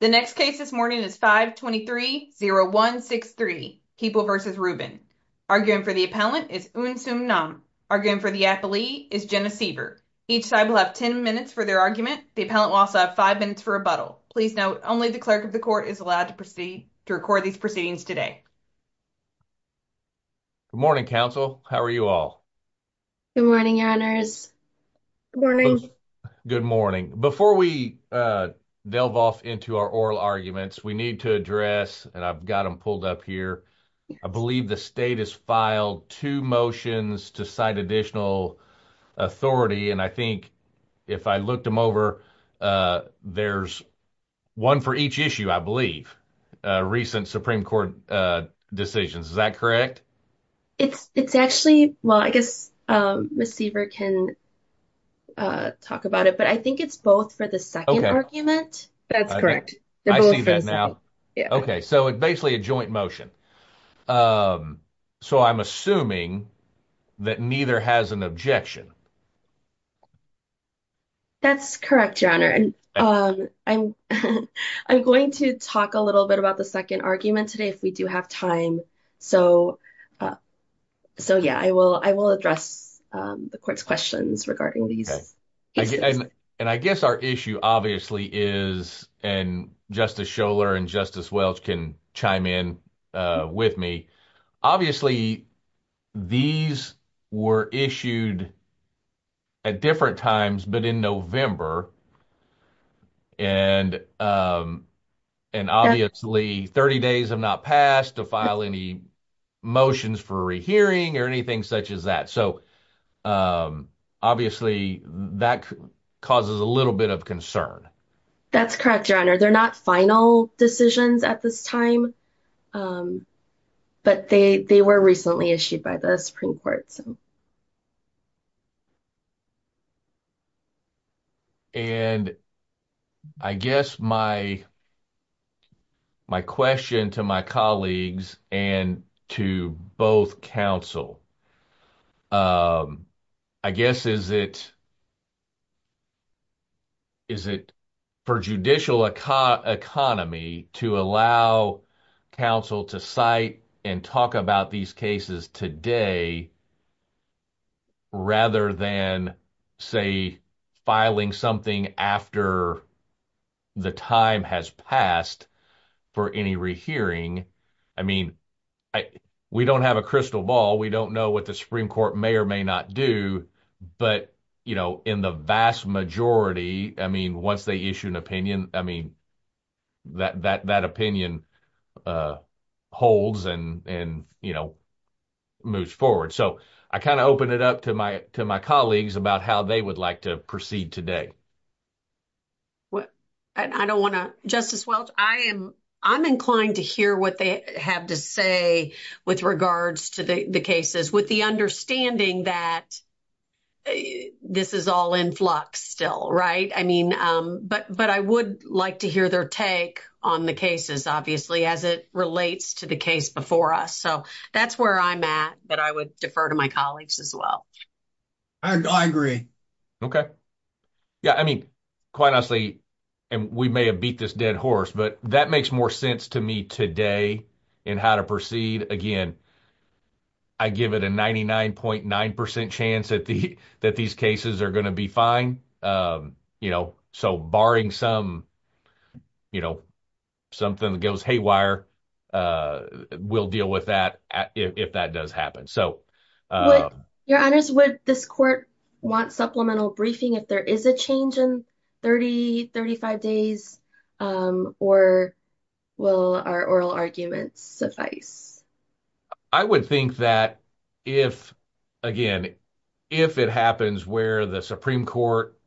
The next case this morning is 523-0163, Keeble v. Rubin. Arguing for the appellant is Eunsoo Nam. Arguing for the appellee is Jenna Siever. Each side will have 10 minutes for their argument. The appellant will also have five minutes for rebuttal. Please note, only the clerk of the court is allowed to proceed to record these proceedings today. Good morning, counsel. How are you all? Good morning, your honors. Good morning. Good morning. Before we delve off into our oral arguments, we need to address, and I've got them pulled up here, I believe the state has filed two motions to cite additional authority, and I think if I looked them over, there's one for each issue, I believe, recent Supreme Court decisions. Is that correct? It's actually, well, I guess Ms. Siever can talk about it, but I think it's both for the second argument. That's correct. I see that now. Okay, so it's basically a joint motion. So I'm assuming that neither has an objection. That's correct, your honor, and I'm going to talk a little bit about the second argument today if we do have time. So yeah, I will address the court's questions regarding these. And I guess our issue obviously is, and Justice Scholar and Justice Welch can chime in with me, obviously these were issued at different times, but in November, and obviously 30 days have not passed to file any motions for rehearing or anything such as that. So obviously that causes a little bit of concern. That's correct, your honor. They're not final decisions at this time, but they were recently issued by the Supreme Court. And I guess my question to my colleagues and to both counsel, I guess, is it for judicial economy to allow counsel to cite and talk about these cases today rather than say filing something after the time has passed for any rehearing? I mean, we don't have a crystal ball. We don't know what the Supreme Court may or may not do, but in the vast majority, I mean, once they issue an opinion, I mean, that opinion holds and moves forward. So I kind of open it up to my colleagues about how they would like to proceed today. Justice Welch, I'm inclined to hear what they have to say with regards to the cases, with the understanding that this is all in flux still, right? But I would like to hear their take on the cases, obviously, as it relates to the case before us. So that's where I'm at, but I would defer to my colleagues as well. I agree. Okay. Yeah, I mean, quite honestly, we may have beat this dead horse, but that makes more sense to me today in how to proceed. Again, I give it a 99.9% chance that these cases are going to be fine. So barring some something that goes haywire, we'll deal with that if that does happen. Your Honors, would this court want supplemental briefing if there is a change in 30, 35 days, or will our oral arguments suffice? I would think that if, again, if it happens where the Supreme Court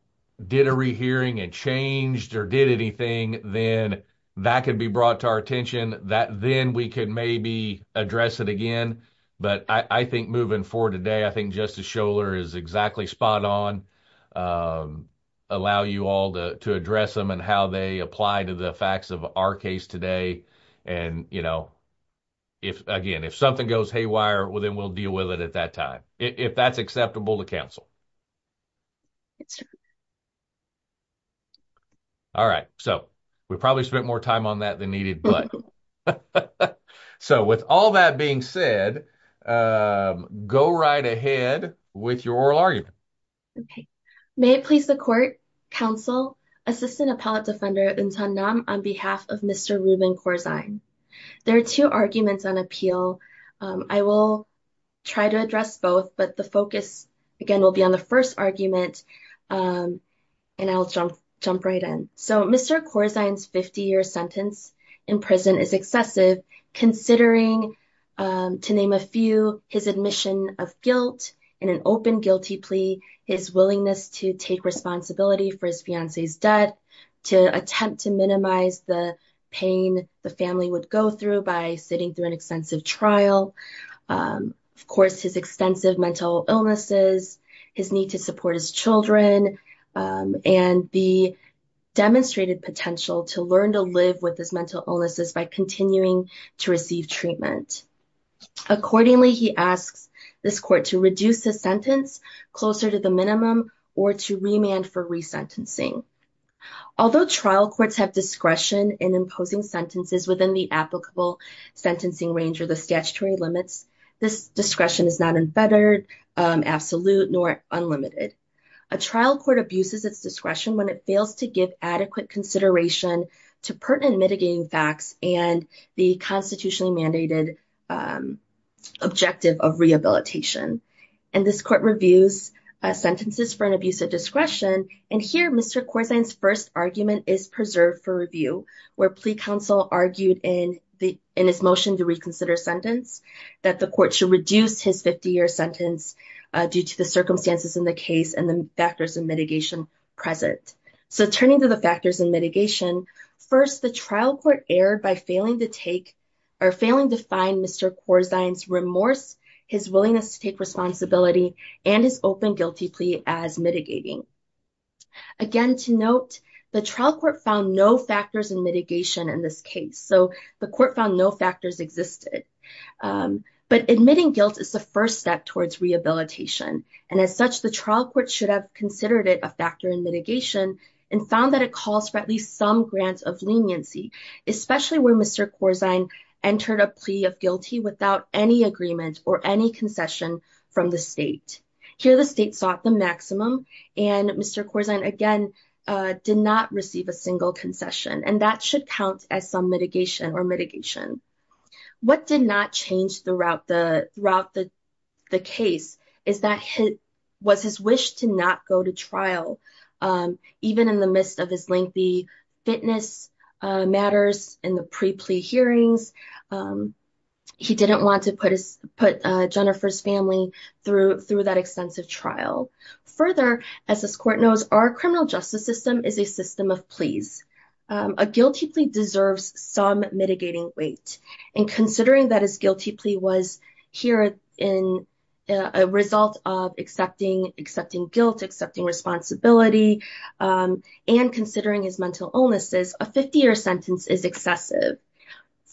did a rehearing and changed or did anything, then that could be brought to our attention. Then we can maybe address it again. But I think moving forward today, I think Justice Scholar is exactly spot on, allow you all to address them and how they apply to the facts of our case today. And again, if something goes haywire, well, then we'll deal with it at that if that's acceptable to counsel. All right. So we probably spent more time on that than needed. So with all that being said, go right ahead with your oral argument. May it please the Court, Counsel, Assistant Appellate Defender Ntunnam on behalf of Mr. Ruben Corzine. There are two arguments on appeal. I will try to address both, but the focus, again, will be on the first argument. And I'll jump right in. So Mr. Corzine's 50-year sentence in prison is excessive considering, to name a few, his admission of guilt in an open guilty plea, his willingness to take responsibility for his fiancee's death, to attempt to minimize the pain the family would go through by sitting through an extensive trial, of course, his extensive mental illnesses, his need to support his children, and the demonstrated potential to learn to live with his mental illnesses by continuing to receive treatment. Accordingly, he asks this Court to reduce the sentence closer to the minimum or to remand for resentencing. Although trial courts have discretion in imposing sentences within the applicable sentencing range or the statutory limits, this discretion is not unfettered, absolute, nor unlimited. A trial court abuses its discretion when it fails to give adequate consideration to pertinent mitigating facts and the constitutionally mandated objective of rehabilitation. And this Court reviews sentences for an abuse of discretion. And here, Mr. Corzine's first argument is preserved for review, where plea counsel argued in his motion to reconsider sentence that the Court should reduce his 50-year sentence due to the circumstances in the case and the factors of mitigation present. So, turning to the factors and mitigation, first, the trial court erred by failing to take or failing to find Mr. Corzine's remorse, his willingness to take responsibility, and his open guilty plea as mitigating. Again, to note, the trial court found no factors in mitigation in this case. So, the Court found no factors existed. But admitting guilt is the first step towards rehabilitation. And as such, the trial court should have considered it a factor in mitigation and found that it calls for at least some grant of leniency, especially when Mr. Corzine entered a plea of guilty without any agreement or any concession from the state. Here, the state sought the maximum, and Mr. Corzine, again, did not receive a single concession. And that should count as some mitigation or mitigation. What did not change throughout the case is that it was his wish to not go to trial. Even in the midst of his lengthy fitness matters in the pre-plea hearings, he didn't want to put Jennifer's family through that extensive trial. Further, as this Court knows, our criminal justice system is a system of pleas. A guilty plea deserves some mitigating weight. And considering that his guilty plea was here in a result of accepting guilt, accepting responsibility, and considering his mental illnesses, a 50-year sentence is excessive.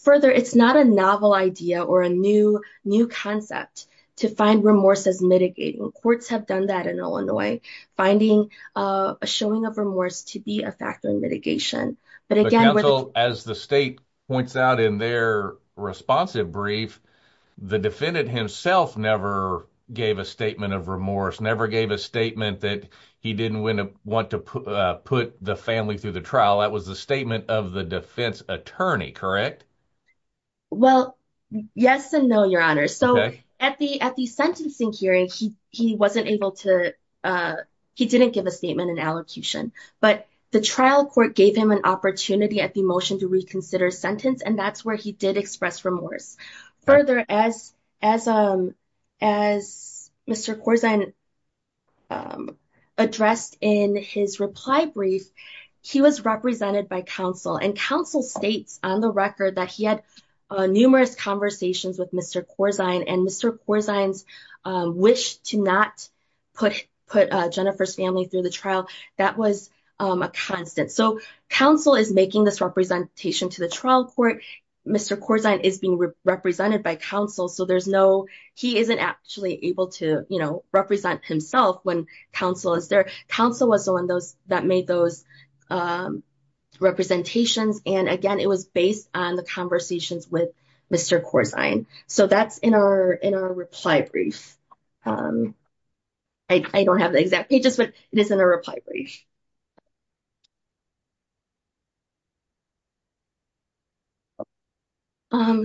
Further, it's not a novel idea or a new concept to find remorse as mitigating. Courts have done that in Illinois, finding a showing of remorse to be a factor in mitigation. Counsel, as the state points out in their responsive brief, the defendant himself never gave a statement of remorse, never gave a statement that he didn't want to put the family through the trial. That was the statement of the defense attorney, correct? Well, yes and no, Your Honor. So at the sentencing hearing, he didn't give a statement in allocution. But the trial court gave him an opportunity at the motion to reconsider sentence, and that's where he did express remorse. Further, as Mr. Corzine addressed in his reply brief, he was represented by counsel. And counsel states on the record that he had numerous conversations with Mr. Corzine, and Mr. Corzine's wish to not put Jennifer's family through the trial, that was a constant. So counsel is making this representation to the trial court, Mr. Corzine is being represented by counsel. So there's no, he isn't actually able to, you know, represent himself when counsel is there. Counsel was the one that made those representations. And again, it was based on the conversations with Mr. Corzine. So that's in our reply brief. I don't have the exact pages, but it is in a reply brief.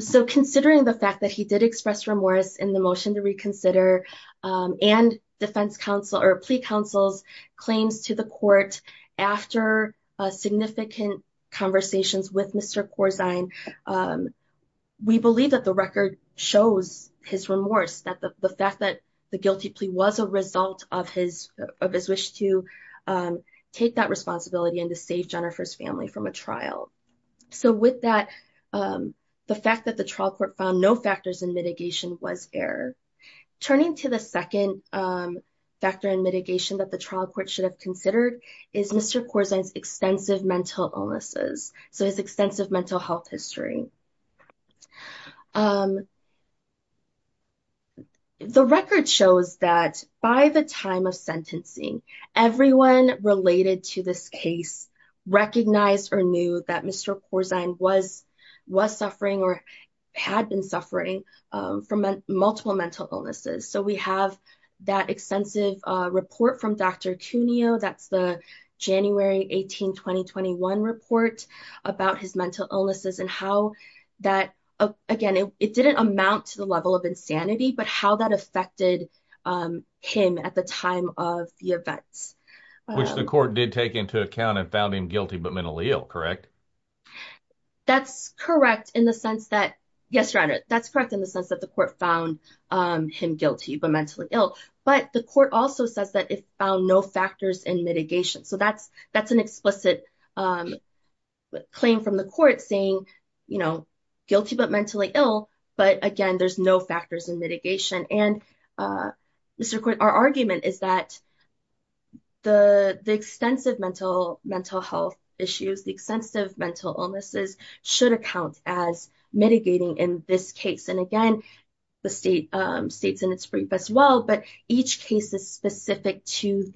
So considering the fact that he did express remorse in the motion to reconsider, and defense counsel or plea counsel's claims to the court after significant conversations with Mr. Corzine, we believe that the record shows his remorse, that the fact that the guilty plea was a result of his wish to take that responsibility and to save Jennifer's family from a trial. So with that, the fact that the trial court found no factors in mitigation was there. Turning to the second factor in mitigation that the trial court should have considered is Mr. Corzine's extensive mental illnesses. So his extensive mental health history. The record shows that by the time of sentencing, everyone related to this case recognized or knew that Mr. Corzine was suffering or had been suffering from multiple mental illnesses. So we have that extensive report from Dr. Cuneo. That's the January 18, 2021 report about his mental illnesses and how that, again, it didn't amount to the level of insanity, but how that affected him at the time of the events. Which the court did take into account and found him but mentally ill, correct? That's correct in the sense that the court found him guilty but mentally ill. But the court also says that it found no factors in mitigation. So that's an explicit claim from the court saying guilty but mentally ill, but again, there's no factors in and our argument is that the extensive mental health issues, the extensive mental illnesses should account as mitigating in this case. And again, the state's in its brief as well, but each case is specific to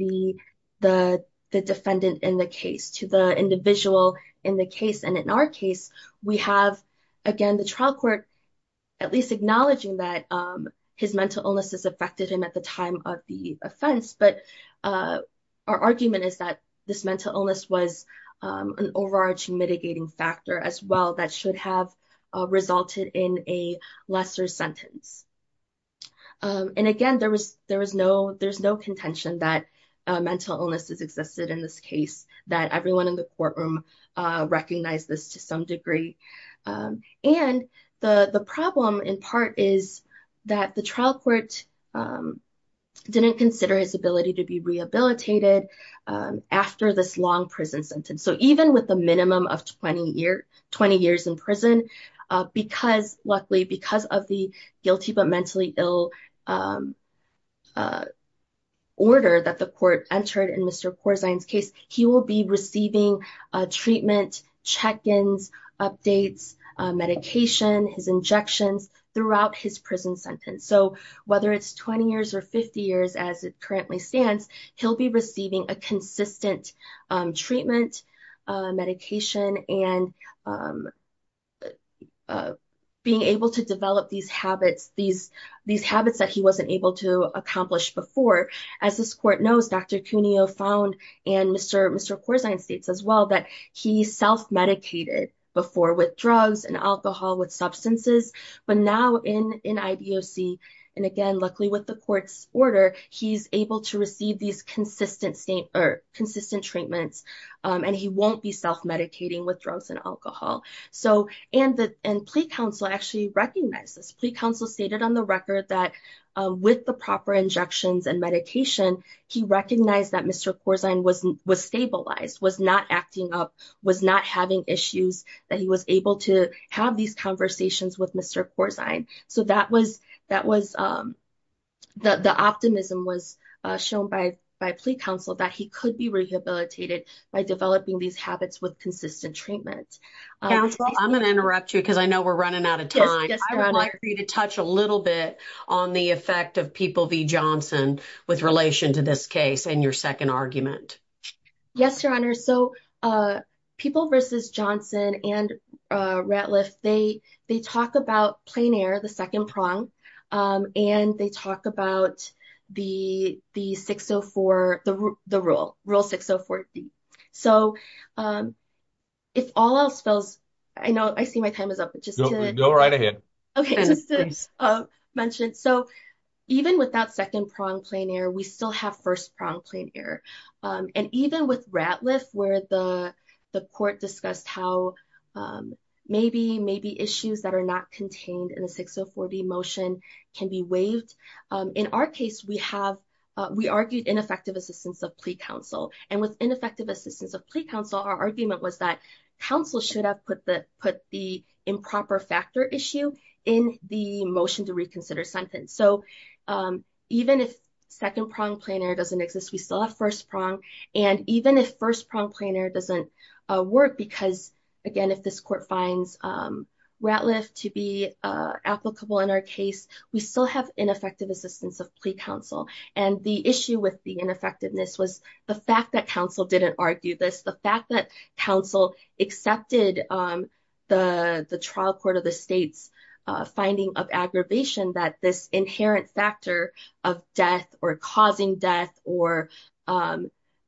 the defendant in the case, to the individual in the case. And in our case, we have, again, the trial court at least acknowledging that his mental illnesses affected him at the time of the offense. But our argument is that this mental illness was an overarching mitigating factor as well that should have resulted in a lesser sentence. And again, there was no contention that mental illnesses existed in this case, that everyone in the courtroom recognized this to some degree. And the problem in part is that the trial court didn't consider his ability to be rehabilitated after this long prison sentence. So even with a minimum of 20 years in prison, luckily because of the guilty but mentally ill order that the court entered in Mr. Corzine's case, he will be receiving treatment, check-ins, updates, medication, his injections throughout his prison sentence. So whether it's 20 years or 50 years as it currently stands, he'll be receiving a consistent treatment, medication, and being able to develop these habits that he wasn't able to accomplish before. As this court knows, Dr. Cuneo found, and Mr. Corzine states as well, that he self-medicated before with drugs and alcohol, with substances. But now in IDOC, and again, luckily with the self-medicating with drugs and alcohol. And plea counsel actually recognized this. Plea counsel stated on the record that with the proper injections and medication, he recognized that Mr. Corzine was stabilized, was not acting up, was not having issues, that he was able to have these conversations with Mr. Corzine. So the optimism was shown by plea counsel that he could be rehabilitated by developing these habits with consistent treatment. Counsel, I'm going to interrupt you because I know we're running out of time. I would like for you to touch a little bit on the effect of People v. Johnson with relation to this case and your second argument. Yes, Your Honor. So People v. Johnson and Rettliff, they talk about plein air, the second prong, and they talk about the 604, the rule, Rule 604D. So if all else fails, I know I see my time is up. Go right ahead. Okay, just to mention, so even with that second prong, plain air, we still have first prong, plain air. And even with Rettliff where the court discussed how maybe issues that are not contained in the 604D motion can be waived, in our case, we argued ineffective assistance of plea counsel. And with ineffective assistance of plea counsel, our argument was that counsel should have put the improper factor issue in the motion to reconsider sentence. So even if second prong, plain air doesn't exist, we still have first prong. And even if first prong, plain air doesn't work, because again, if this court finds Rettliff to be applicable in our case, we still have ineffective assistance of plea counsel. And the issue with the ineffectiveness was the fact that counsel didn't argue this, the fact that counsel accepted the trial court of the states finding of aggravation that this inherent factor of death or causing death or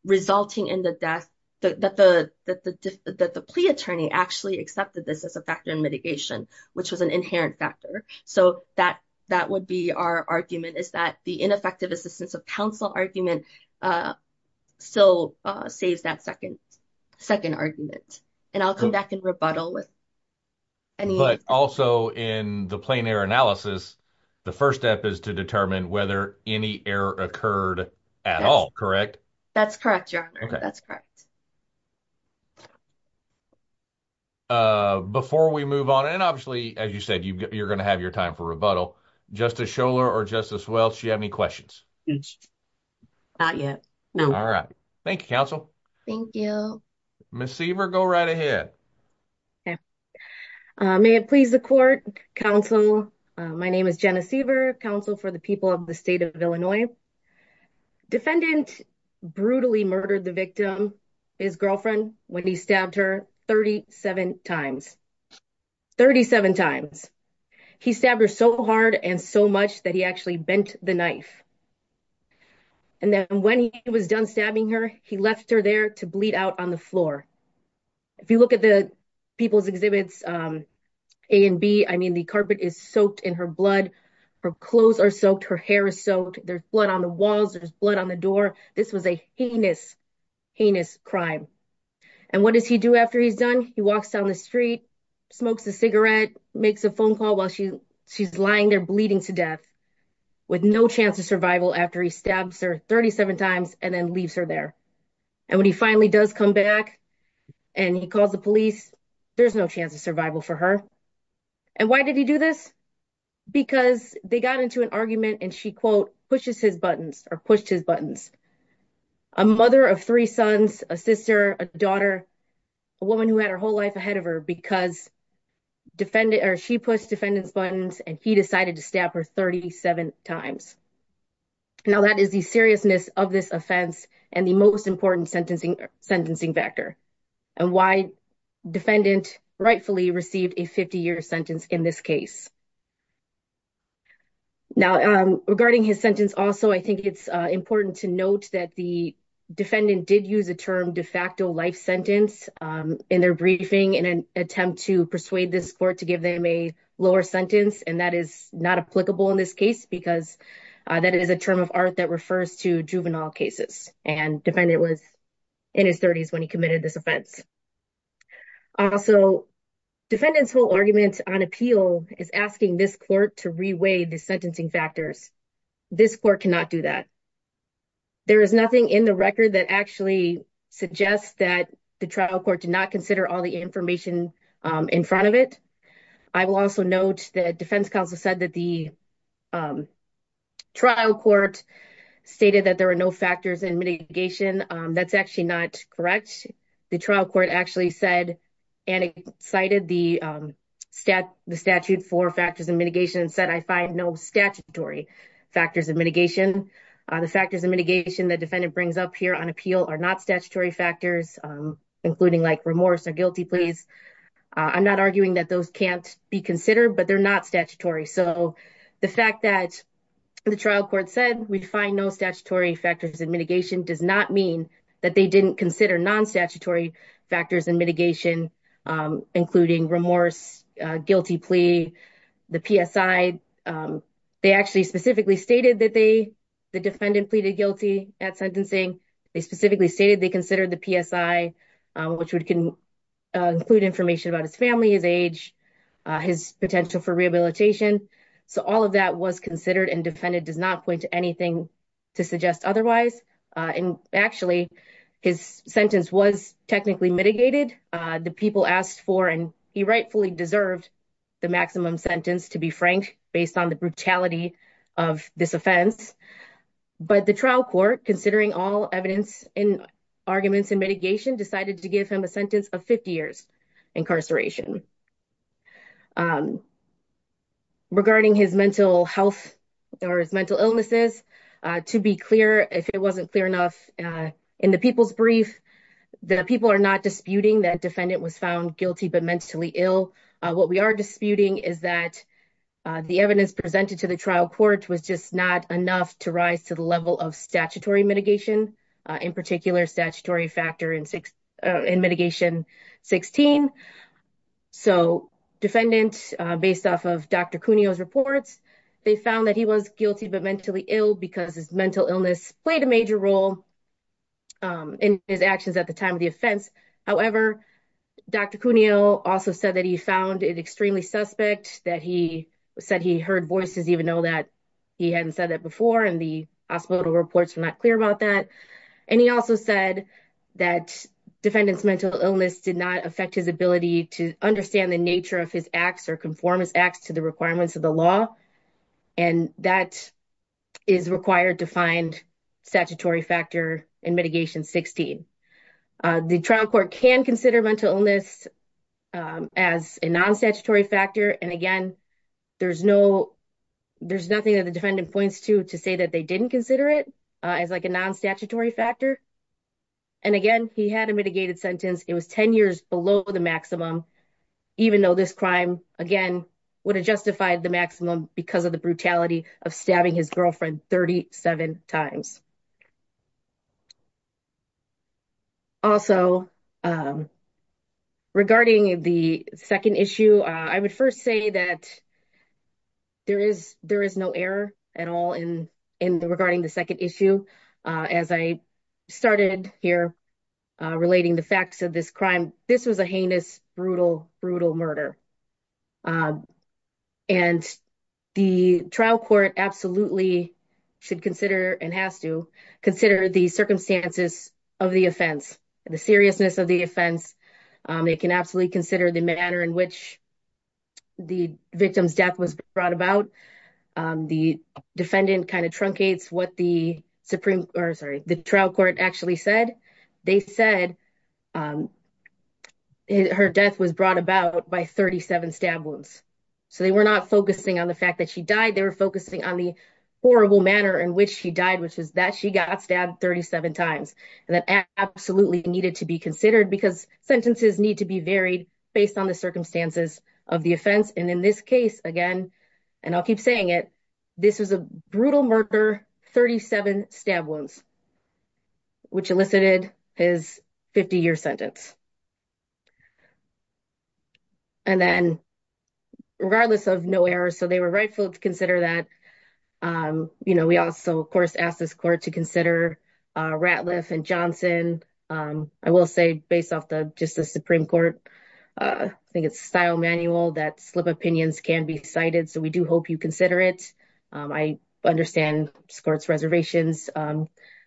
resulting in the death, that the plea attorney actually accepted this as a factor in mitigation, which was an inherent factor. So that would be our argument, is that the ineffective assistance of counsel argument still saves that second argument. And I'll come back and rebuttal with- But also in the plain air analysis, the first step is to determine whether any error occurred at all, correct? That's correct, your honor. That's correct. Before we move on, and obviously, as you said, you're going to have your time for rebuttal, Justice Scholar or Justice Welch, do you have any questions? Not yet. No. All right. Thank you, counsel. Thank you. Ms. Seaver, go right ahead. Okay. May it please the court, counsel, my name is Jenna Seaver, counsel for the people of the state of Illinois. Defendant brutally murdered the victim, his girlfriend, when he stabbed her 37 times. 37 times. He stabbed her so hard and so much that he actually bent the knife. And then when he was done stabbing her, he left her there to bleed out on the floor. If you look at the people's exhibits, A and B, I mean, the carpet is soaked in her blood, her clothes are soaked, her hair is soaked, there's blood on the walls, there's blood on the door. This was a heinous, heinous crime. And what does he do after he's done? He walks down the street, smokes a cigarette, makes a phone call while she's lying there bleeding to death, with no chance of survival after he stabs her 37 times and then leaves her there. And when he finally does come back and he calls the police, there's no chance of survival for her. And why did he do this? Because they got into an argument and she, quote, pushes his buttons or pushed his buttons. A mother of three sons, a sister, a daughter, a woman who had her whole life ahead of her because she pushed defendant's buttons and he decided to stab her 37 times. Now that is the seriousness of this offense and the most important sentencing factor and why defendant rightfully received a 50-year sentence in this case. Now regarding his sentence also, I think it's important to note that the defendant did use the term de facto life sentence in their briefing in an attempt to persuade this court give them a lower sentence and that is not applicable in this case because that is a term of art that refers to juvenile cases and defendant was in his 30s when he committed this offense. Also, defendant's whole argument on appeal is asking this court to reweigh the sentencing factors. This court cannot do that. There is nothing in the record that actually suggests that the trial court did not consider all the information in front of it. I will also note that defense counsel said that the trial court stated that there are no factors in mitigation. That's actually not correct. The trial court actually said and cited the statute for factors of mitigation and said I find no statutory factors of mitigation. The factors of mitigation that defendant brings up on appeal are not statutory factors including remorse or guilty pleas. I'm not arguing that those can't be considered but they're not statutory. The fact that the trial court said we find no statutory factors of mitigation does not mean that they didn't consider non-statutory factors of mitigation including remorse, guilty plea, the PSI. They actually specifically stated the defendant pleaded guilty at sentencing. They specifically stated they considered the PSI which would include information about his family, his age, his potential for rehabilitation. All of that was considered and defendant does not point to anything to suggest otherwise. Actually, his sentence was technically mitigated. The people asked for and he rightfully deserved the maximum sentence to be frank based on the brutality of this offense. But the trial court, considering all evidence in arguments and mitigation, decided to give him a sentence of 50 years incarceration. Regarding his mental health or his mental illnesses, to be clear, if it wasn't clear enough in the people's brief, the people are not disputing that defendant was guilty but mentally ill. What we are disputing is that the evidence presented to the trial court was just not enough to rise to the level of statutory mitigation, in particular, statutory factor in mitigation 16. So, defendant, based off of Dr. Cuneo's reports, they found that he was guilty but mentally ill because his mental illness played a major role in his actions at the time of the trial. Dr. Cuneo also said that he found it extremely suspect, that he said he heard voices even though he hadn't said that before and the hospital reports were not clear about that. He also said that defendant's mental illness did not affect his ability to understand the nature of his acts or conformance acts to the requirements of the law. That is required to find statutory factor in mitigation 16. The trial court can consider mental illness as a non-statutory factor and again, there's nothing that the defendant points to to say that they didn't consider it as like a non-statutory factor and again, he had a mitigated sentence. It was 10 years below the maximum even though this crime, again, would have justified the maximum because of the brutality of stabbing his girlfriend 37 times. Also, regarding the second issue, I would first say that there is no error at all in regarding the second issue. As I started here relating the facts of this crime, this was a heinous, brutal, brutal murder and the trial court absolutely should consider and has to consider the circumstances of the offense, the seriousness of the offense. They can absolutely consider the manner in which the victim's death was brought about. The defendant kind of truncates what the Supreme Court, sorry, the trial court actually said. They said her death was brought about by 37 stab wounds so they were not focusing on the fact that she died. They were focusing on the horrible manner in which she died which is that she got stabbed 37 times and that absolutely needed to be considered because sentences need to be varied based on the circumstances of the stab wounds which elicited his 50-year sentence. And then, regardless of no error, so they were rightful to consider that. We also, of course, asked this court to consider Ratliff and Johnson. I will say based off just the Supreme Court, I think it's style manual that slip opinions can be cited so we do hope you consider it. I understand this court's reservations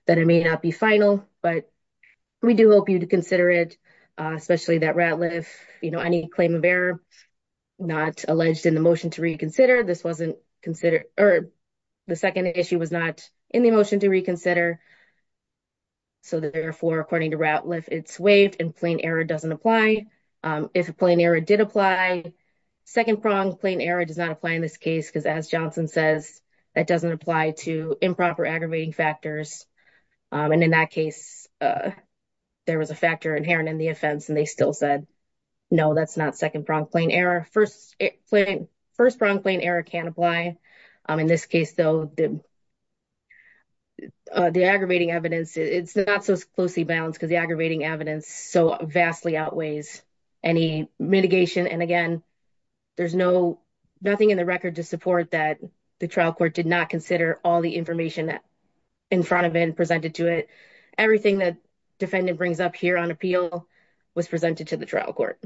that it may not be final but we do hope you'd consider it especially that Ratliff, you know, any claim of error not alleged in the motion to reconsider. This wasn't considered or the second issue was not in the motion to reconsider so therefore, according to Ratliff, it's waived and plain error doesn't apply. If a plain error did apply, second prong plain error does not apply in this case because as Johnson says, that doesn't apply to improper aggravating factors and in that case, there was a factor inherent in the offense and they still said, no, that's not second prong plain error. First prong plain error can apply. In this case though, the aggravating evidence, it's not so closely balanced because the aggravating evidence so vastly outweighs any mitigation and again, there's nothing in the record to support that the trial court did not consider all the information that in front of it and presented to it. Everything that defendant brings up here on appeal was presented to the trial court.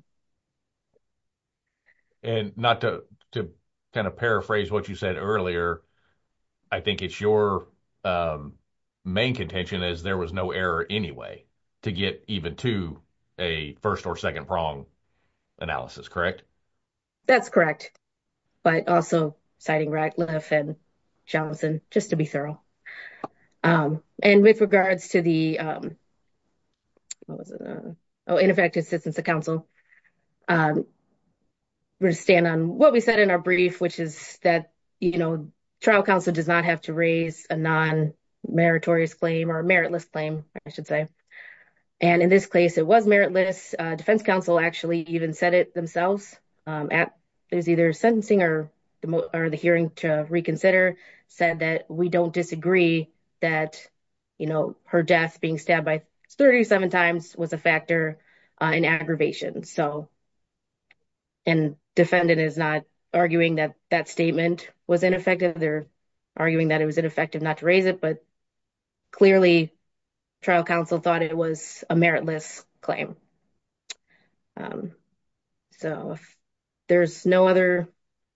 And not to kind of paraphrase what you said earlier, I think it's your main contention is there was no error anyway to get even to a first or second prong analysis, correct? That's correct, but also citing Ratliff and Johnson just to be thorough. And with regards to the ineffective assistance of counsel, we're going to stand on what we said in our brief, which is that trial counsel does not have to raise a non-meritorious claim or meritless claim, I should say. And in this case, it was meritless. Defense counsel actually even said it themselves. There's either sentencing or the hearing to reconsider said that we don't disagree that her death being stabbed by 37 times was a factor in aggravation. And defendant is not arguing that that statement was ineffective. They're effective not to raise it, but clearly trial counsel thought it was a meritless claim. So if there's no other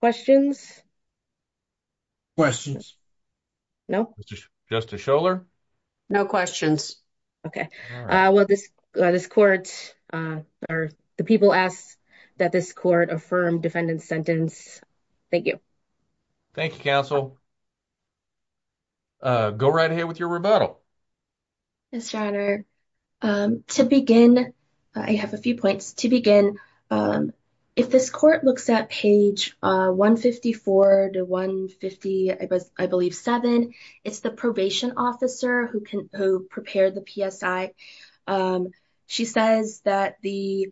questions. Questions? No. Justice Scholar? No questions. Okay, well this court, or the people asked that this court affirm defendant's sentence. Thank you. Thank you, counsel. Go right ahead with your rebuttal. Yes, your honor. To begin, I have a few points. To begin, if this court looks at page 154 to 150, I believe seven, it's the probation officer who prepared the PSI. She says that the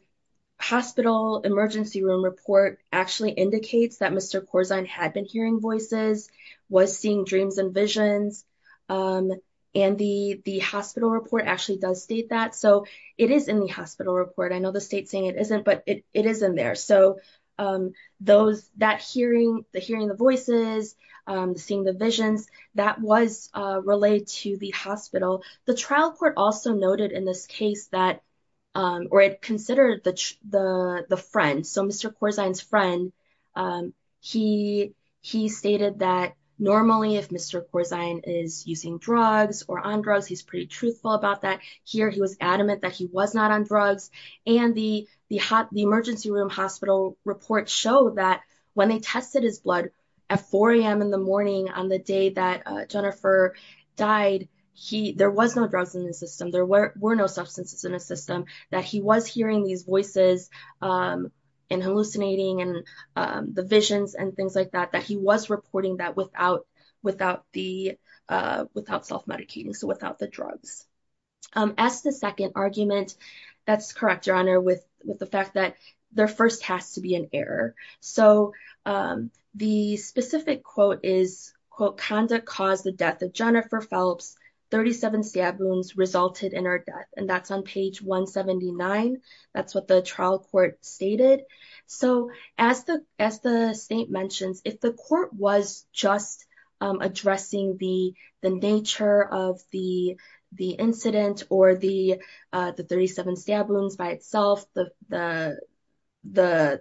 hospital emergency room report actually indicates that Mr. Corzine had been hearing voices, was seeing dreams and visions. And the hospital report actually does state that. So it is in the hospital report. I know the state's saying it isn't, but it is in there. So that hearing, the hearing the voices, seeing the visions, that was relayed to the hospital. The trial court also noted in this case that, or it considered the friend. So Mr. Corzine's he stated that normally if Mr. Corzine is using drugs or on drugs, he's pretty truthful about that. Here he was adamant that he was not on drugs. And the emergency room hospital report showed that when they tested his blood at 4 a.m. in the morning on the day that Jennifer died, there was no drugs in the system. There were no substances in the system. That he was hearing these voices and hallucinating and the visions and things like that, that he was reporting that without self-medicating, so without the drugs. As to the second argument, that's correct, Your Honor, with the fact that there first has to be an error. So the specific quote is, quote, conduct caused the death of Jennifer Phelps. 37 stab wounds resulted in her death. That's on page 179. That's what the trial court stated. So as the state mentions, if the court was just addressing the nature of the incident or the 37 stab wounds by itself, the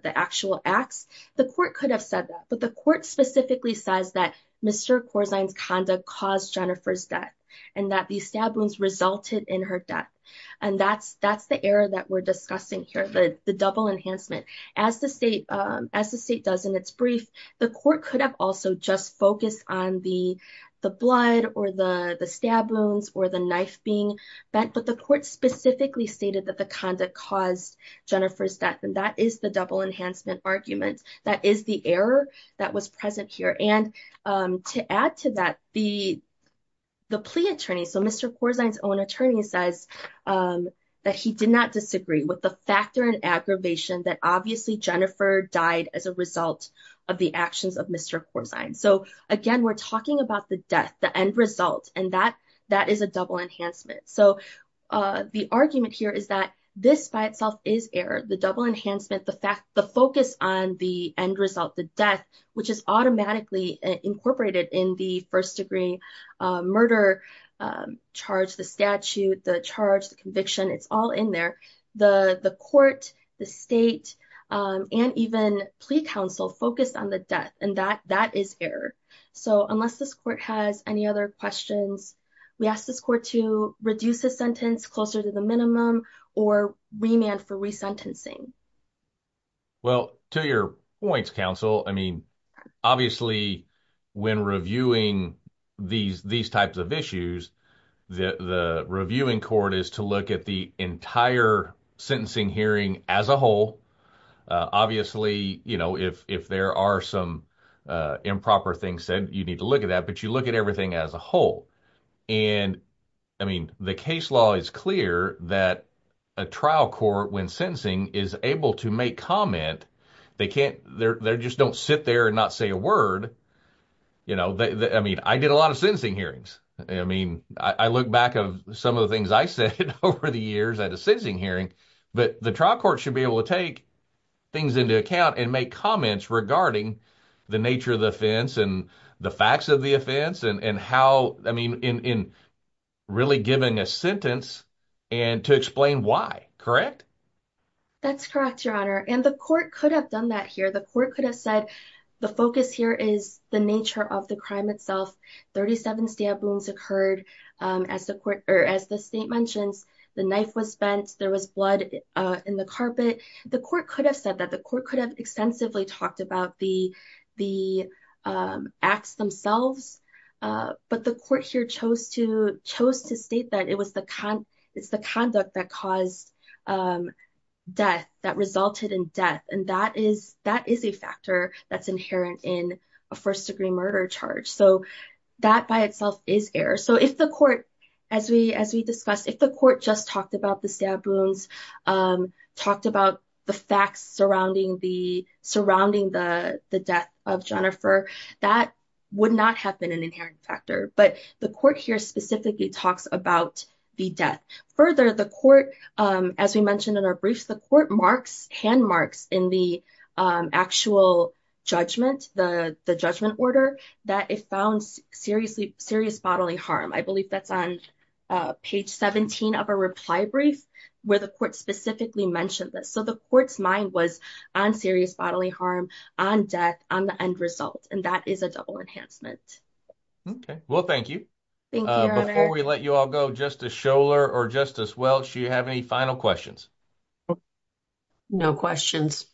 actual acts, the court could have said that. But the court specifically says that Mr. Corzine's conduct caused Jennifer's death and that the stab wounds resulted in her death. And that's the error that we're discussing here, the double enhancement. As the state does in its brief, the court could have also just focused on the blood or the stab wounds or the knife being bent. But the court specifically stated that the conduct caused Jennifer's death. And that is the double enhancement argument. That is the error that was present here. And to add to that, the plea attorney, so Mr. Corzine's own attorney, says that he did not disagree with the factor and aggravation that obviously Jennifer died as a result of the actions of Mr. Corzine. So again, we're talking about the death, the end result, and that is a double enhancement. So the argument here is that this by itself is error, the double enhancement, the focus on the end result, the death, which is automatically incorporated in the first degree murder charge, the statute, the charge, the conviction, it's all in there. The court, the state, and even plea counsel focused on the death and that is error. So unless this court has any other questions, we ask this court to reduce the sentence closer to the minimum or remand for resentencing. Well, to your points, counsel, obviously when reviewing these types of issues, the reviewing court is to look at the entire sentencing hearing as a whole. Obviously, if there are some improper things said, you need to look at that, but you look at everything as a whole. The case law is clear that a trial court, when sentencing, is able to make comment. They just don't sit there and not say a word. I did a lot of sentencing hearings. I look back of some of the things I said over the years at a sentencing hearing, but the trial court should be able to take things into account and make comments regarding the nature of the offense and the facts of the offense and how, I mean, really giving a sentence and to explain why. Correct? That's correct, Your Honor. And the court could have done that here. The court could have said, the focus here is the nature of the crime itself. 37 stab wounds occurred. As the state mentions, the knife was bent, there was blood in the carpet. The court could have said that. The court could have extensively talked about the acts themselves, but the court here chose to state that it's the conduct that caused death, that resulted in death. And that is a factor that's inherent in a first-degree murder charge. So, that by itself is error. So, if the court, as we discussed, if the court just talked about the stab wounds, talked about the facts surrounding the death of Jennifer, that would not have been an inherent factor. But the court here specifically talks about the death. Further, the court, as we mentioned in our briefs, the court marks, hand marks in the actual judgment, the judgment order, that it found serious bodily harm. I believe that's on page 17 of our reply brief, where the court specifically mentioned this. So, the court's mind was on serious bodily harm, on death, on the end result. And that is a double enhancement. Okay. Well, thank you. Thank you, Your Honor. Before we let you all go, Justice Scholar or Justice Welch, do you have any final questions? No questions.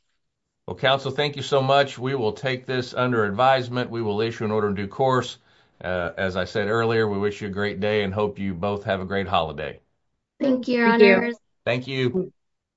Well, counsel, thank you so much. We will take this under advisement. We will issue an order in due course. As I said earlier, we wish you a great day and hope you both have a great holiday. Thank you, Your Honor. Thank you.